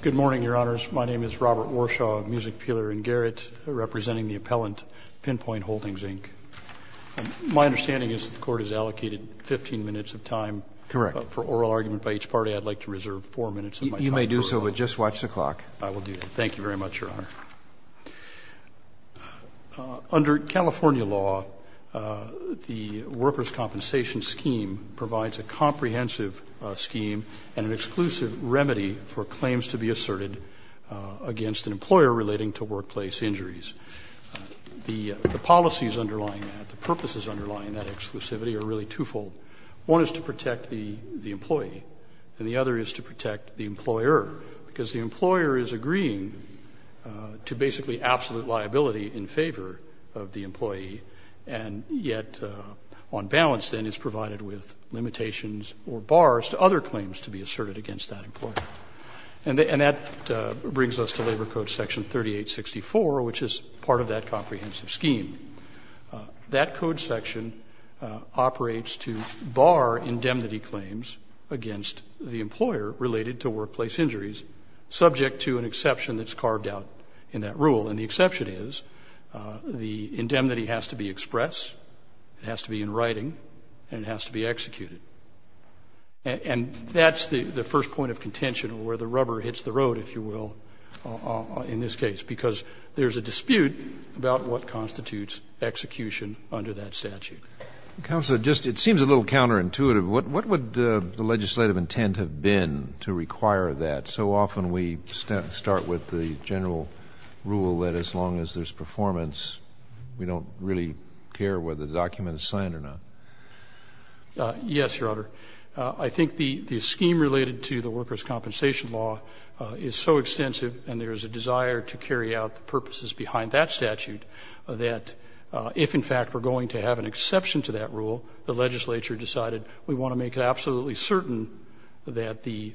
Good morning, Your Honors. My name is Robert Warshaw, music peeler in Garrett, representing the appellant Pinpoint Holdings, Inc. My understanding is that the Court has allocated 15 minutes of time for oral argument by each party. I'd like to reserve 4 minutes of my time. You may do so, but just watch the clock. I will do that. Thank you very much, Your Honor. Under California law, the Worker's Compensation Scheme provides a comprehensive scheme and an exclusive remedy for claims to be asserted against an employer relating to workplace injuries. The policies underlying that, the purposes underlying that exclusivity are really twofold. One is to protect the employee, and the other is to protect the employer. So there's really absolute liability in favor of the employee, and yet on balance, then, is provided with limitations or bars to other claims to be asserted against that employer. And that brings us to Labor Code Section 3864, which is part of that comprehensive scheme. That code section operates to bar indemnity claims against the employer related to workplace injuries, subject to an exception that's carved out in that rule. And the exception is, the indemnity has to be expressed, it has to be in writing, and it has to be executed. And that's the first point of contention where the rubber hits the road, if you will, in this case, because there's a dispute about what constitutes execution under that statute. Kennedy, it seems a little counterintuitive. What would the legislative intent have been to require that? So often we start with the general rule that as long as there's performance, we don't really care whether the document is signed or not. Yes, Your Honor. I think the scheme related to the workers' compensation law is so extensive and there is a desire to carry out the purposes behind that statute that if, in fact, we're going to have an exception to that rule, the legislature decided we want to make absolutely certain that the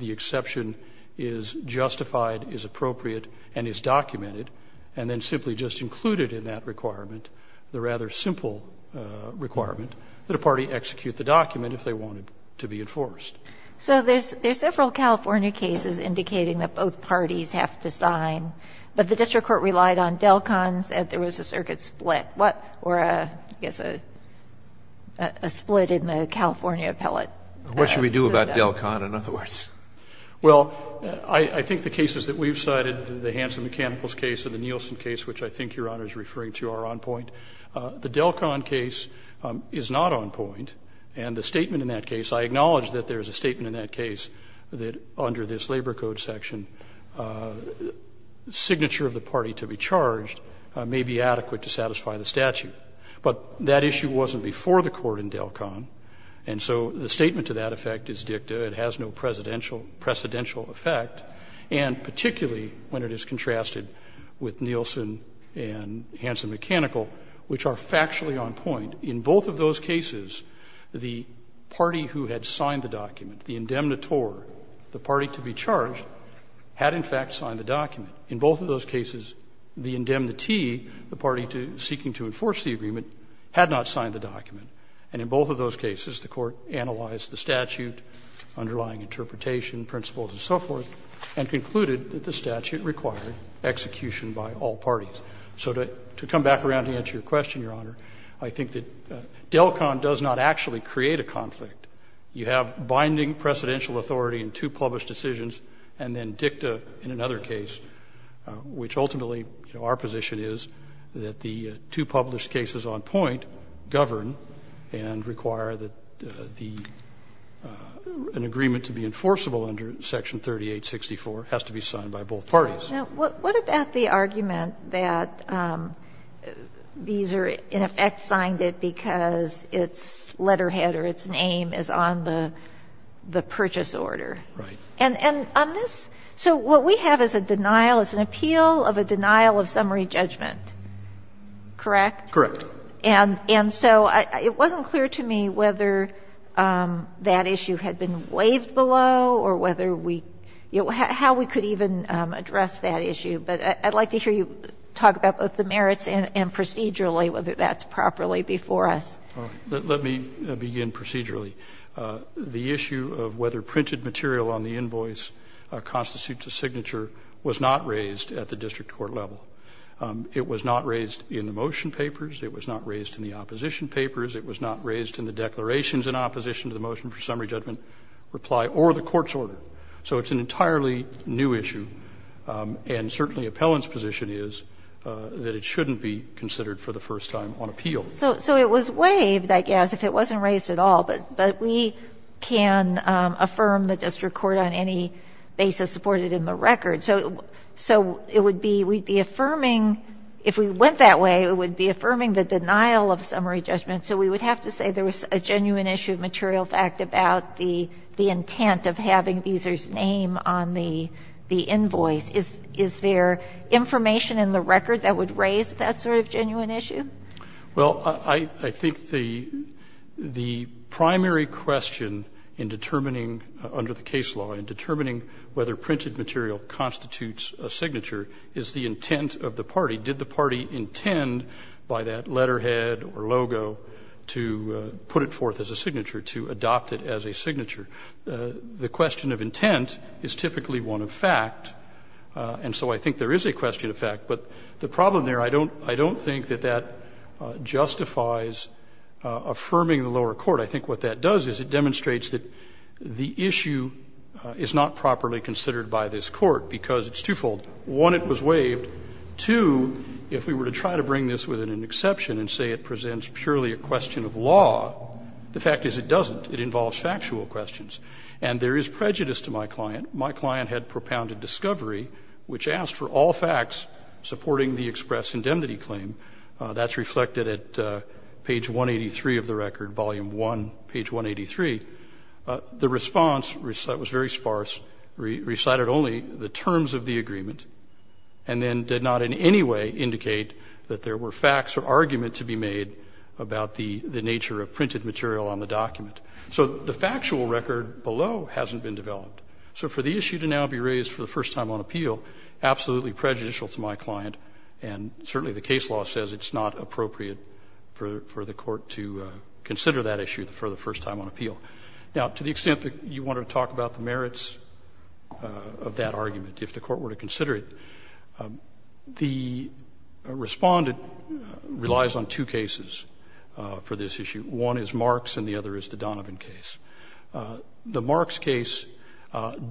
exception is justified, is appropriate, and is documented, and then simply just included in that requirement, the rather simple requirement, that a party execute the document if they want it to be enforced. So there's several California cases indicating that both parties have to sign, but The district court relied on Delcons and there was a circuit split, or I guess a split in the California appellate. What should we do about Delcon, in other words? Well, I think the cases that we've cited, the Hanson Mechanicals case and the Nielsen case, which I think Your Honor is referring to, are on point. The Delcon case is not on point. And the statement in that case, I acknowledge that there is a statement in that case that under this Labor Code section, signature of the party to be charged may be adequate to satisfy the statute. But that issue wasn't before the court in Delcon. And so the statement to that effect is dicta. It has no presidential effect. And particularly when it is contrasted with Nielsen and Hanson Mechanical, which are factually on point, in both of those cases, the party who had signed the document, the indemnitore, the party to be charged, had in fact signed the document. In both of those cases, the indemnitee, the party seeking to enforce the agreement, had not signed the document. And in both of those cases, the court analyzed the statute, underlying interpretation, principles, and so forth, and concluded that the statute required execution by all parties. So to come back around to answer your question, Your Honor, I think that Delcon does not actually create a conflict. You have binding presidential authority in two published decisions, and then dicta in another case, which ultimately, you know, our position is that the two published cases on point govern and require that the an agreement to be enforceable under Section 3864 has to be signed by both parties. Now, what about the argument that these are in effect signed it because its letterhead or its name is on the purchase order? And on this, so what we have is a denial, it's an appeal of a denial of summary judgment, correct? Correct. And so it wasn't clear to me whether that issue had been waived below or whether we, you know, how we could even address that issue. But I'd like to hear you talk about both the merits and procedurally, whether that's properly before us. Let me begin procedurally. The issue of whether printed material on the invoice constitutes a signature was not raised at the district court level. It was not raised in the motion papers. It was not raised in the opposition papers. It was not raised in the declarations in opposition to the motion for summary judgment reply or the court's order. So it's an entirely new issue, and certainly Appellant's position is that it shouldn't be considered for the first time on appeal. So it was waived, I guess, if it wasn't raised at all, but we can affirm the district court on any basis supported in the record. So it would be, we'd be affirming, if we went that way, it would be affirming the denial of summary judgment. So we would have to say there was a genuine issue of material fact about the intent of having Beezer's name on the invoice. Is there information in the record that would raise that sort of genuine issue? Well, I think the primary question in determining under the case law, in determining whether printed material constitutes a signature, is the intent of the party. Did the party intend by that letterhead or logo to put it forth as a signature, to adopt it as a signature? The question of intent is typically one of fact, and so I think there is a question of fact, but the problem there, I don't think that that justifies affirming the lower court. I think what that does is it demonstrates that the issue is not properly considered by this Court, because it's twofold. One, it was waived. Two, if we were to try to bring this with an exception and say it presents purely a question of law, the fact is it doesn't. It involves factual questions. And there is prejudice to my client. My client had propounded discovery, which asked for all facts supporting the express indemnity claim. That's reflected at page 183 of the record, volume 1, page 183. The response was very sparse, recited only the terms of the agreement, and then did not in any way indicate that there were facts or arguments to be made about the nature of printed material on the document. So the factual record below hasn't been developed. So for the issue to now be raised for the first time on appeal, absolutely prejudicial to my client, and certainly the case law says it's not appropriate for the Court to consider that issue for the first time on appeal. Now, to the extent that you want to talk about the merits of that argument, if the Court were to consider it, the Respondent relies on two cases for this issue. One is Marks and the other is the Donovan case. The Marks case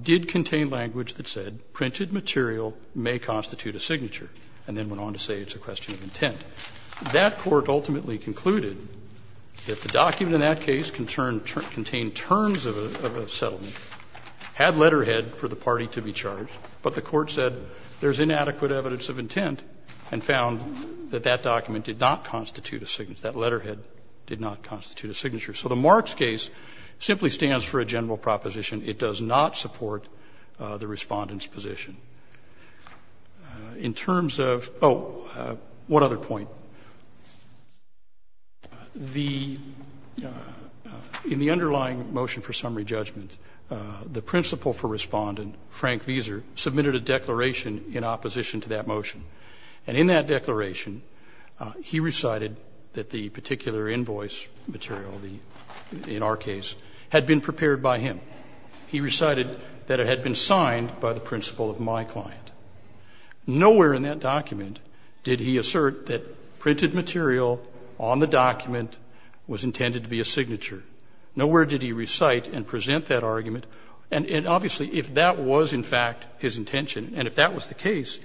did contain language that said printed material may constitute a signature, and then went on to say it's a question of intent. That Court ultimately concluded that the document in that case contained terms of a settlement, had letterhead for the party to be charged, but the Court said there is inadequate evidence of intent and found that that document did not constitute That letterhead did not constitute a signature. So the Marks case simply stands for a general proposition. It does not support the Respondent's position. In terms of oh, what other point? The underlying motion for summary judgment, the principal for Respondent, Frank Veser, submitted a declaration in opposition to that motion. And in that declaration, he recited that the particular invoice material, the signature in our case, had been prepared by him. He recited that it had been signed by the principal of my client. Nowhere in that document did he assert that printed material on the document was intended to be a signature. Nowhere did he recite and present that argument. And obviously, if that was in fact his intention, and if that was the case,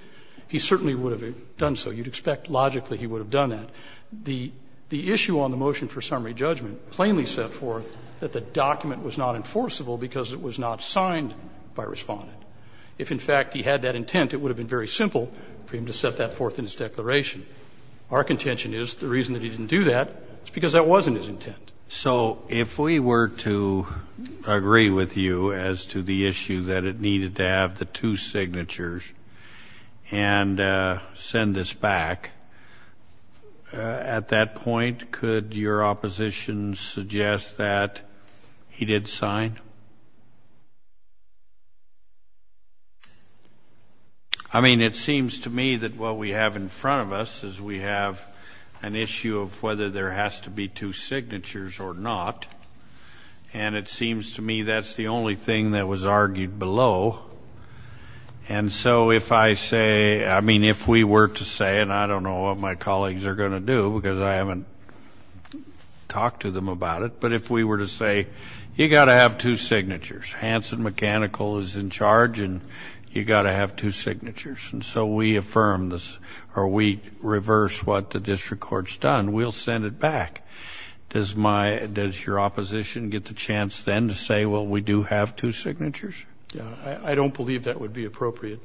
he certainly would have done so. You would expect logically he would have done that. The issue on the motion for summary judgment plainly set forth that the document was not enforceable because it was not signed by Respondent. If, in fact, he had that intent, it would have been very simple for him to set that forth in his declaration. Our contention is the reason that he didn't do that is because that wasn't his intent. So if we were to agree with you as to the issue that it needed to have the two signatures and send this back, at that point, could your opposition suggest that he did sign? I mean, it seems to me that what we have in front of us is we have an issue of whether there has to be two signatures or not. And it seems to me that's the only thing that was argued below. And so if I say, I mean, if we were to say, and I don't know what my colleagues are going to do because I haven't talked to them about it, but if we were to say, you've got to have two signatures. Hanson Mechanical is in charge, and you've got to have two signatures. And so we affirm this, or we reverse what the district court's done. We'll send it back. Does my, does your opposition get the chance then to say, well, we do have two signatures? I don't believe that would be appropriate.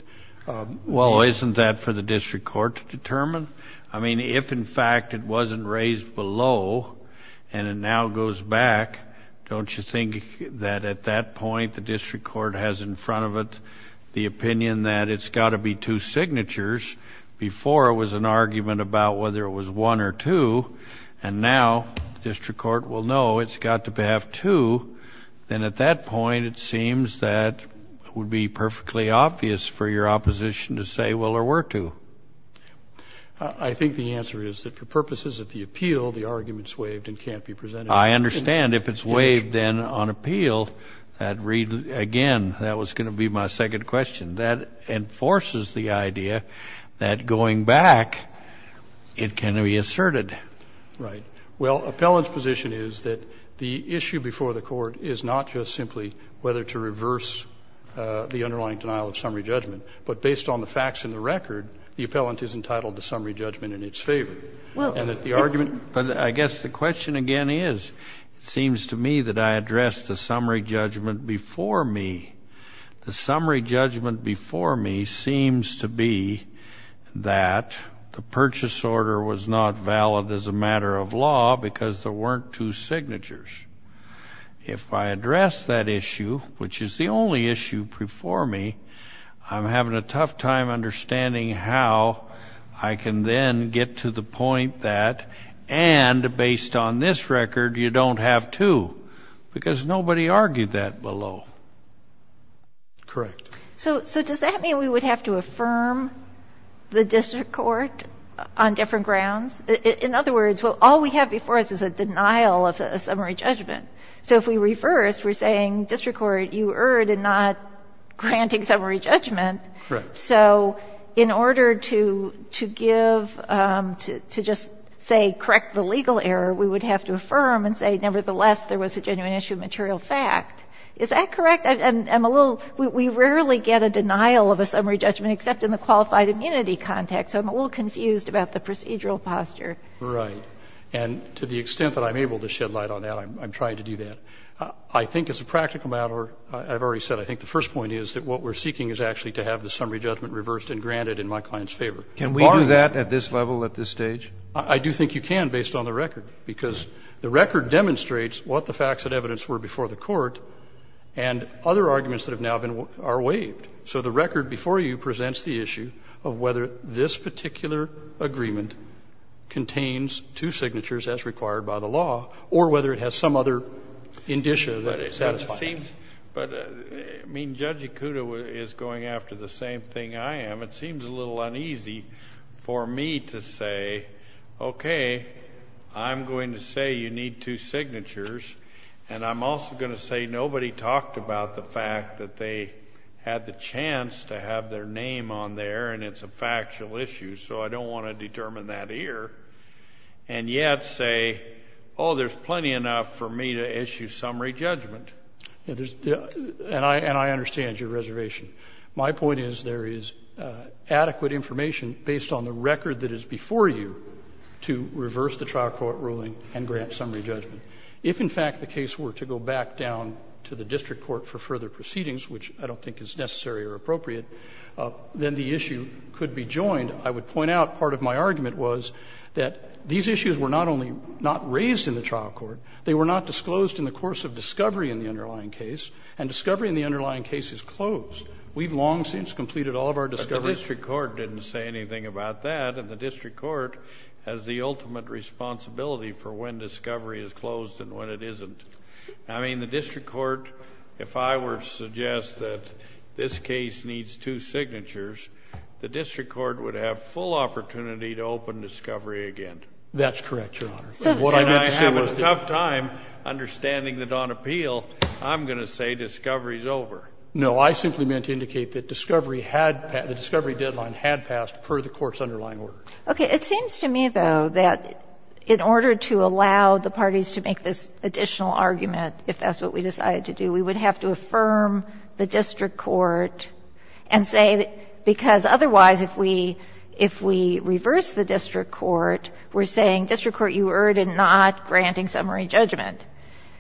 Well, isn't that for the district court to determine? I mean, if in fact it wasn't raised below and it now goes back, don't you think that at that point the district court has in front of it the opinion that it's got to be two signatures before it was an argument about whether it was one or two? And now district court will know it's got to have two. Then at that point, it seems that it would be perfectly obvious for your opposition to say, well, there were two. I think the answer is that for purposes of the appeal, the argument's waived and can't be presented. I understand. If it's waived then on appeal, that would read, again, that was going to be my second question. That enforces the idea that going back, it can be asserted. Right. Well, appellant's position is that the issue before the Court is not just simply whether to reverse the underlying denial of summary judgment, but based on the facts in the record, the appellant is entitled to summary judgment in its favor. And that the argument that I guess the question again is, it seems to me that I addressed the summary judgment before me. The summary judgment before me seems to be that the purchase order was not valid as a matter of law because there weren't two signatures. If I address that issue, which is the only issue before me, I'm having a tough time understanding how I can then get to the point that, and based on this record, you don't have two, because nobody argued that below. Correct. So does that mean we would have to affirm the district court on different grounds? In other words, all we have before us is a denial of a summary judgment. So if we reversed, we're saying district court, you erred in not granting summary judgment. Correct. So in order to give, to just say correct the legal error, we would have to affirm and say nevertheless, there was a genuine issue of material fact. Is that correct? I'm a little we rarely get a denial of a summary judgment except in the qualified immunity context. So I'm a little confused about the procedural posture. Right. And to the extent that I'm able to shed light on that, I'm trying to do that. I think as a practical matter, I've already said, I think the first point is that what we're seeking is actually to have the summary judgment reversed and granted in my client's favor. Can we do that at this level, at this stage? I do think you can based on the record, because the record demonstrates what the facts and evidence were before the court, and other arguments that have now been are waived. So the record before you presents the issue of whether this particular agreement contains two signatures as required by the law, or whether it has some other indicia that satisfy that. But it seems, but I mean, Judge Ikuda is going after the same thing I am. It seems a little uneasy for me to say, okay, I'm going to say you need two signatures, and I'm also going to say nobody talked about the fact that they had the chance to have their name on there, and it's a factual issue, so I don't want to determine that here, and yet say, oh, there's plenty enough for me to issue summary judgment. And I understand your reservation. My point is there is adequate information based on the record that is before you to reverse the trial court ruling and grant summary judgment. If, in fact, the case were to go back down to the district court for further proceedings, which I don't think is necessary or appropriate, then the issue could be joined. I would point out part of my argument was that these issues were not only not raised in the trial court, they were not disclosed in the course of discovery in the underlying case, and discovery in the underlying case is closed. We've long since completed all of our discovery. But the district court didn't say anything about that, and the district court has the right to say when it's disclosed and when it isn't. I mean, the district court, if I were to suggest that this case needs two signatures, the district court would have full opportunity to open discovery again. That's correct, Your Honor. So what I meant to say was that the district court would have full opportunity to open discovery again. No, I simply meant to indicate that discovery had passed, the discovery deadline had passed per the court's underlying order. Okay. It seems to me, though, that in order to allow the parties to make this additional argument, if that's what we decided to do, we would have to affirm the district court and say that because otherwise if we reverse the district court, we're saying district court, you erred in not granting summary judgment.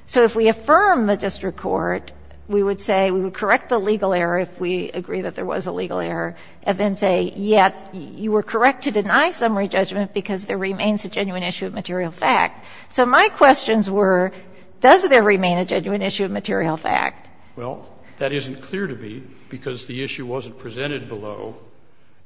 So if we affirm the district court, we would say we would correct the legal error if we agree that there was a legal error, and then say, yet, you were correct to deny summary judgment because there remains a genuine issue of material fact. So my questions were, does there remain a genuine issue of material fact? Well, that isn't clear to me because the issue wasn't presented below,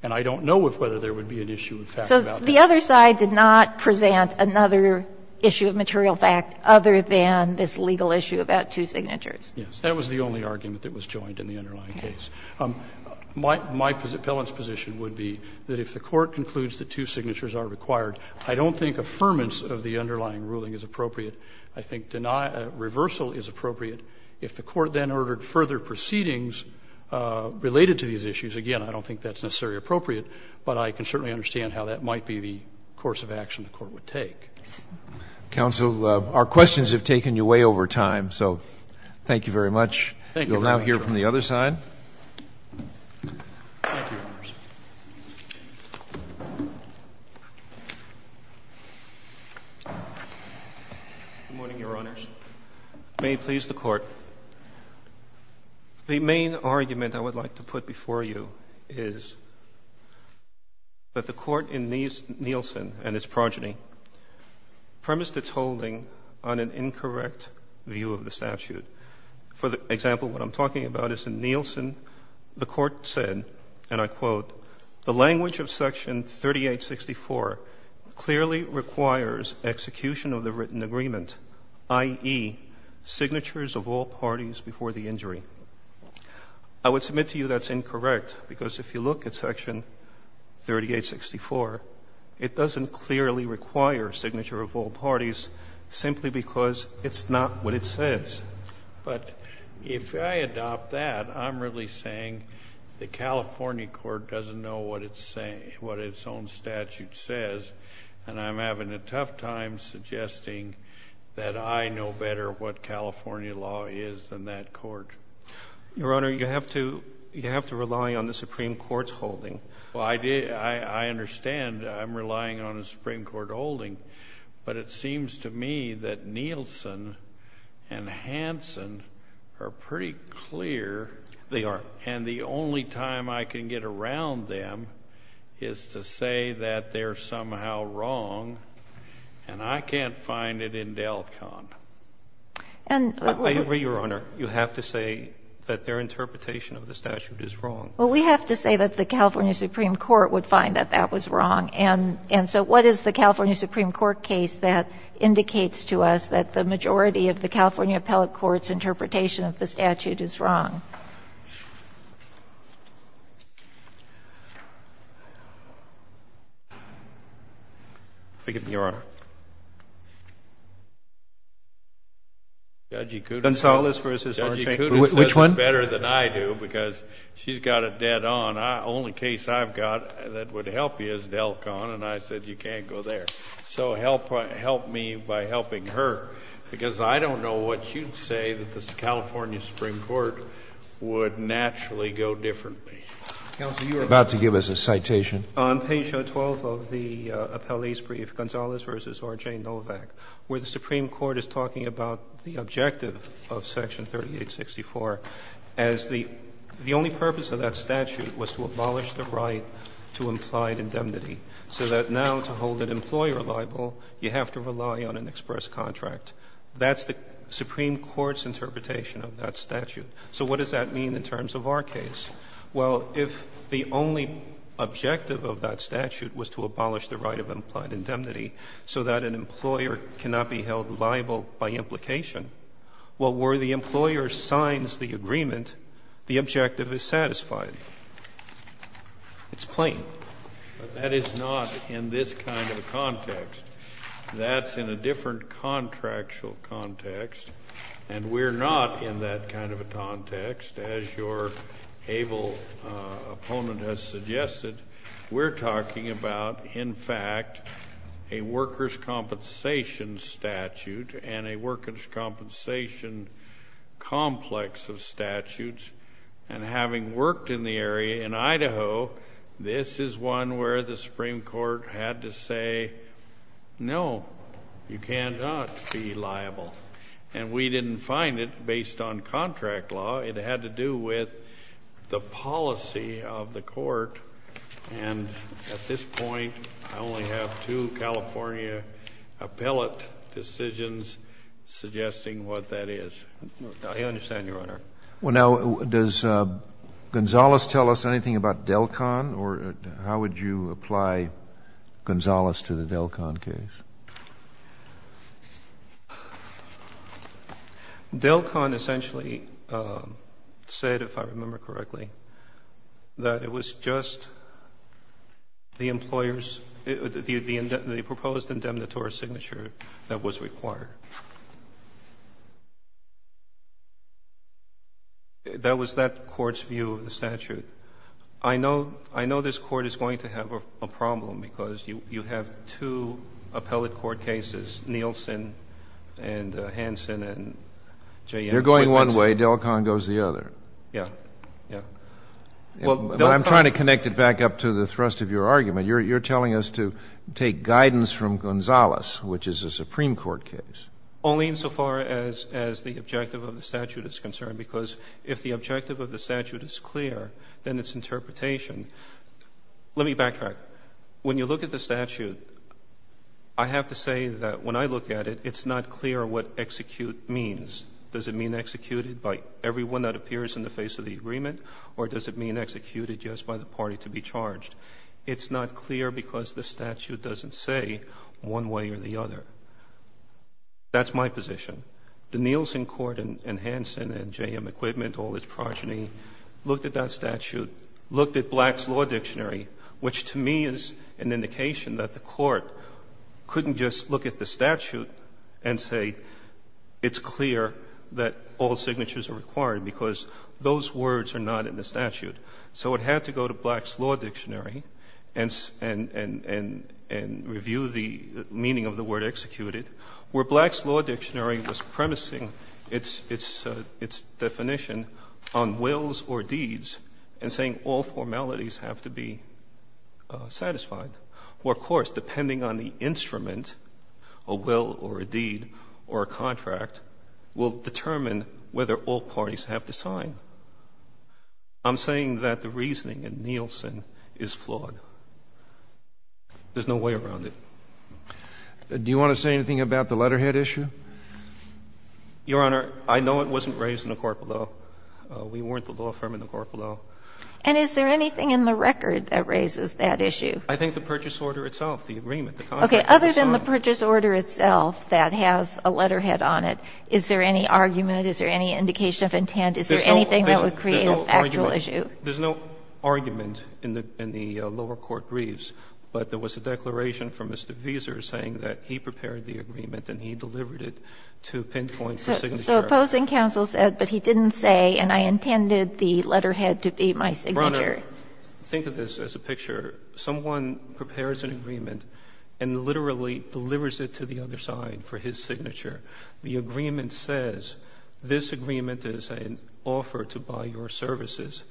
and I don't know if whether there would be an issue of fact about that. So the other side did not present another issue of material fact other than this legal issue about two signatures. Yes. That was the only argument that was joined in the underlying case. My appellant's position would be that if the Court concludes that two signatures are required, I don't think affirmance of the underlying ruling is appropriate. I think reversal is appropriate. If the Court then ordered further proceedings related to these issues, again, I don't think that's necessarily appropriate, but I can certainly understand how that might be the course of action the Court would take. Roberts. Counsel, our questions have taken you way over time, so thank you very much. Thank you very much, Your Honor. We'll now hear from the other side. Thank you, Your Honor. Good morning, Your Honors. May it please the Court. The main argument I would like to put before you is that the Court in Nielsen and its progeny premised its holding on an incorrect view of the statute. For example, what I'm talking about is in Nielsen, the Court said, and I quote, the language of Section 3864 clearly requires execution of the written agreement, i.e., signatures of all parties before the injury. I would submit to you that's incorrect, because if you look at Section 3864, it doesn't clearly require signature of all parties simply because it's not what it says. But if I adopt that, I'm really saying the California Court doesn't know what its own statute says, and I'm having a tough time suggesting that I know better what California law is than that Court. Your Honor, you have to rely on the Supreme Court's holding. Well, I understand I'm relying on a Supreme Court holding, but it seems to me that the California Supreme Court and the California Supreme Court in Nielsen are pretty clear, and the only time I can get around them is to say that they're somehow wrong, and I can't find it in DelCon. I agree, Your Honor. You have to say that their interpretation of the statute is wrong. Well, we have to say that the California Supreme Court would find that that was wrong. And so what is the California Supreme Court case that indicates to us that the majority of the California appellate court's interpretation of the statute is wrong? Forgive me, Your Honor. Judge Cudas. Gonzales v. Sarnshteyn. Which one? Judge Cudas does better than I do because she's got it dead on. The only case I've got that would help you is DelCon, and I said you can't go there. So help me by helping her, because I don't know what you'd say that the California Supreme Court would naturally go differently. Counsel, you were about to give us a citation. On page 12 of the appellee's brief, Gonzales v. Orr, J. Novak, where the Supreme Court is talking about the objective of Section 3864 as the only purpose of that statute was to abolish the right of implied indemnity, so that an employer cannot be held liable by implication, well, where the employer signs the agreement, the objective is satisfied. It's plain. But that is not in this kind of a context. That's in a different contractual context, and we're not in that kind of a context. As your able opponent has suggested, we're talking about, in fact, a workers' compensation statute and a workers' compensation complex of statutes, and having worked in the area in Idaho, this is one where the Supreme Court had to say, no, you cannot be liable. And we didn't find it based on contract law. It had to do with the policy of the court, and at this point, I only have two California appellate decisions suggesting what that is. I understand, Your Honor. Roberts, well, now, does Gonzales tell us anything about DelCon, or how would you apply Gonzales to the DelCon case? DelCon essentially said, if I remember correctly, that it was just the employer's the proposed indemnitory signature that was required. That was that court's view of the statute. I know this Court is going to have a problem, because you have two appellate court cases, Nielsen and Hansen and J.N. Poitnetson. You're going one way, DelCon goes the other. Yes. Yes. Well, DelCon But I'm trying to connect it back up to the thrust of your argument. You're telling us to take guidance from Gonzales, which is a Supreme Court case. Only insofar as the objective of the statute is concerned, because if the objective of the statute is clear, then its interpretation Let me backtrack. When you look at the statute, I have to say that when I look at it, it's not clear what execute means. Does it mean executed by everyone that appears in the face of the agreement, or does it mean executed just by the party to be charged? It's not clear because the statute doesn't say one way or the other. That's my position. The Nielsen Court and Hansen and J.M. Equipment, all its progeny, looked at that statute, looked at Black's Law Dictionary, which to me is an indication that the Court couldn't just look at the statute and say it's clear that all signatures are required, because those words are not in the statute. So it had to go to Black's Law Dictionary and review the meaning of the word executed, where Black's Law Dictionary was premising its definition on wills or deeds and saying all formalities have to be satisfied, where, of course, depending on the instrument, a will or a deed or a contract, will determine whether all parties have to sign. I'm saying that the reasoning in Nielsen is flawed. There's no way around it. Do you want to say anything about the letterhead issue? Your Honor, I know it wasn't raised in the court below. We weren't the law firm in the court below. And is there anything in the record that raises that issue? I think the purchase order itself, the agreement, the contract that was signed. Okay. Other than the purchase order itself that has a letterhead on it, is there any argument, is there any indication of intent, is there anything that would create a factual issue? There's no argument in the lower court briefs, but there was a declaration from Mr. Wieser saying that he prepared the agreement and he delivered it to Pinpoint for signature. So opposing counsel said, but he didn't say, and I intended the letterhead to be my signature. Your Honor, think of this as a picture. Someone prepares an agreement and literally delivers it to the other side for his signature. The agreement says, this agreement is an offer to buy your services.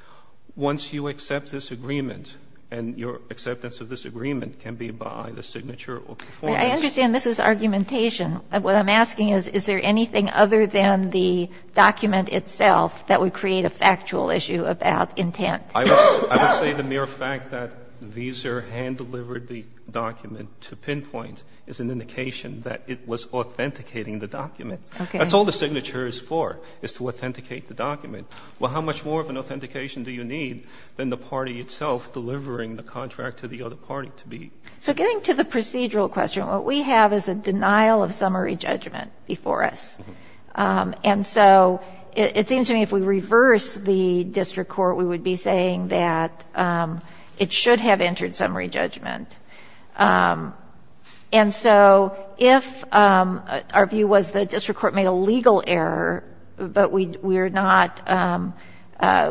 Once you accept this agreement, and your acceptance of this agreement can be by the signature or performance. I understand this is argumentation. What I'm asking is, is there anything other than the document itself that would create a factual issue about intent? I would say the mere fact that Wieser hand-delivered the document to Pinpoint is an indication that it was authenticating the document. Okay. That's all the signature is for, is to authenticate the document. Well, how much more of an authentication do you need than the party itself delivering the contract to the other party to be? So getting to the procedural question, what we have is a denial of summary judgment before us. And so it seems to me if we reverse the district court, we would be saying that it should have entered summary judgment. And so if our view was the district court made a legal error, but we are not,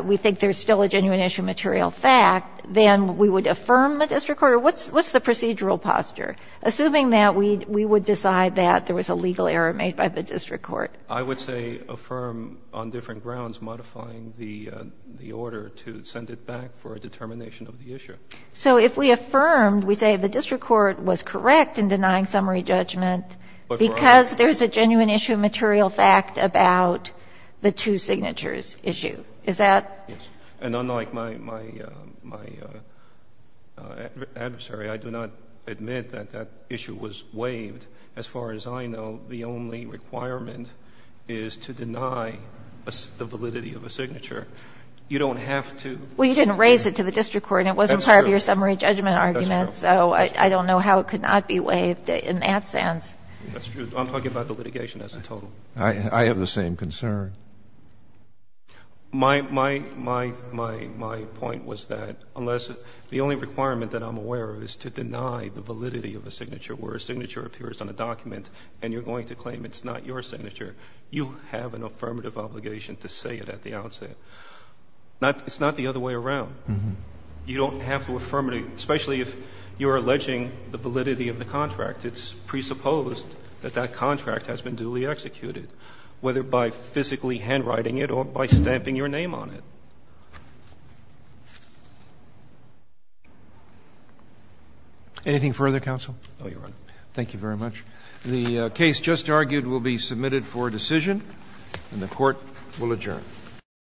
we think there's still a genuine issue of material fact, then we would affirm the district court, or what's the procedural posture, assuming that we would decide that there was a legal error made by the district court? I would say affirm on different grounds, modifying the order to send it back for a determination of the issue. So if we affirmed, we say the district court was correct in denying summary judgment because there's a genuine issue of material fact about the two signatures issue. Is that? And unlike my adversary, I do not admit that that issue was waived. As far as I know, the only requirement is to deny the validity of a signature. You don't have to. Well, you didn't raise it to the district court and it wasn't part of your summary judgment argument. That's true. So I don't know how it could not be waived in that sense. That's true. I'm talking about the litigation as a total. I have the same concern. My, my, my, my, my point was that unless the only requirement that I'm aware of is to deny the validity of a signature, where a signature appears on a document and you're going to claim it's not your signature, you have an affirmative obligation to say it at the outset. It's not the other way around. You don't have to affirm it, especially if you're alleging the validity of the contract. It's presupposed that that contract has been duly executed, whether by physical handwriting it or by stamping your name on it. Anything further, counsel? No, Your Honor. Thank you very much. The case just argued will be submitted for decision and the court will adjourn.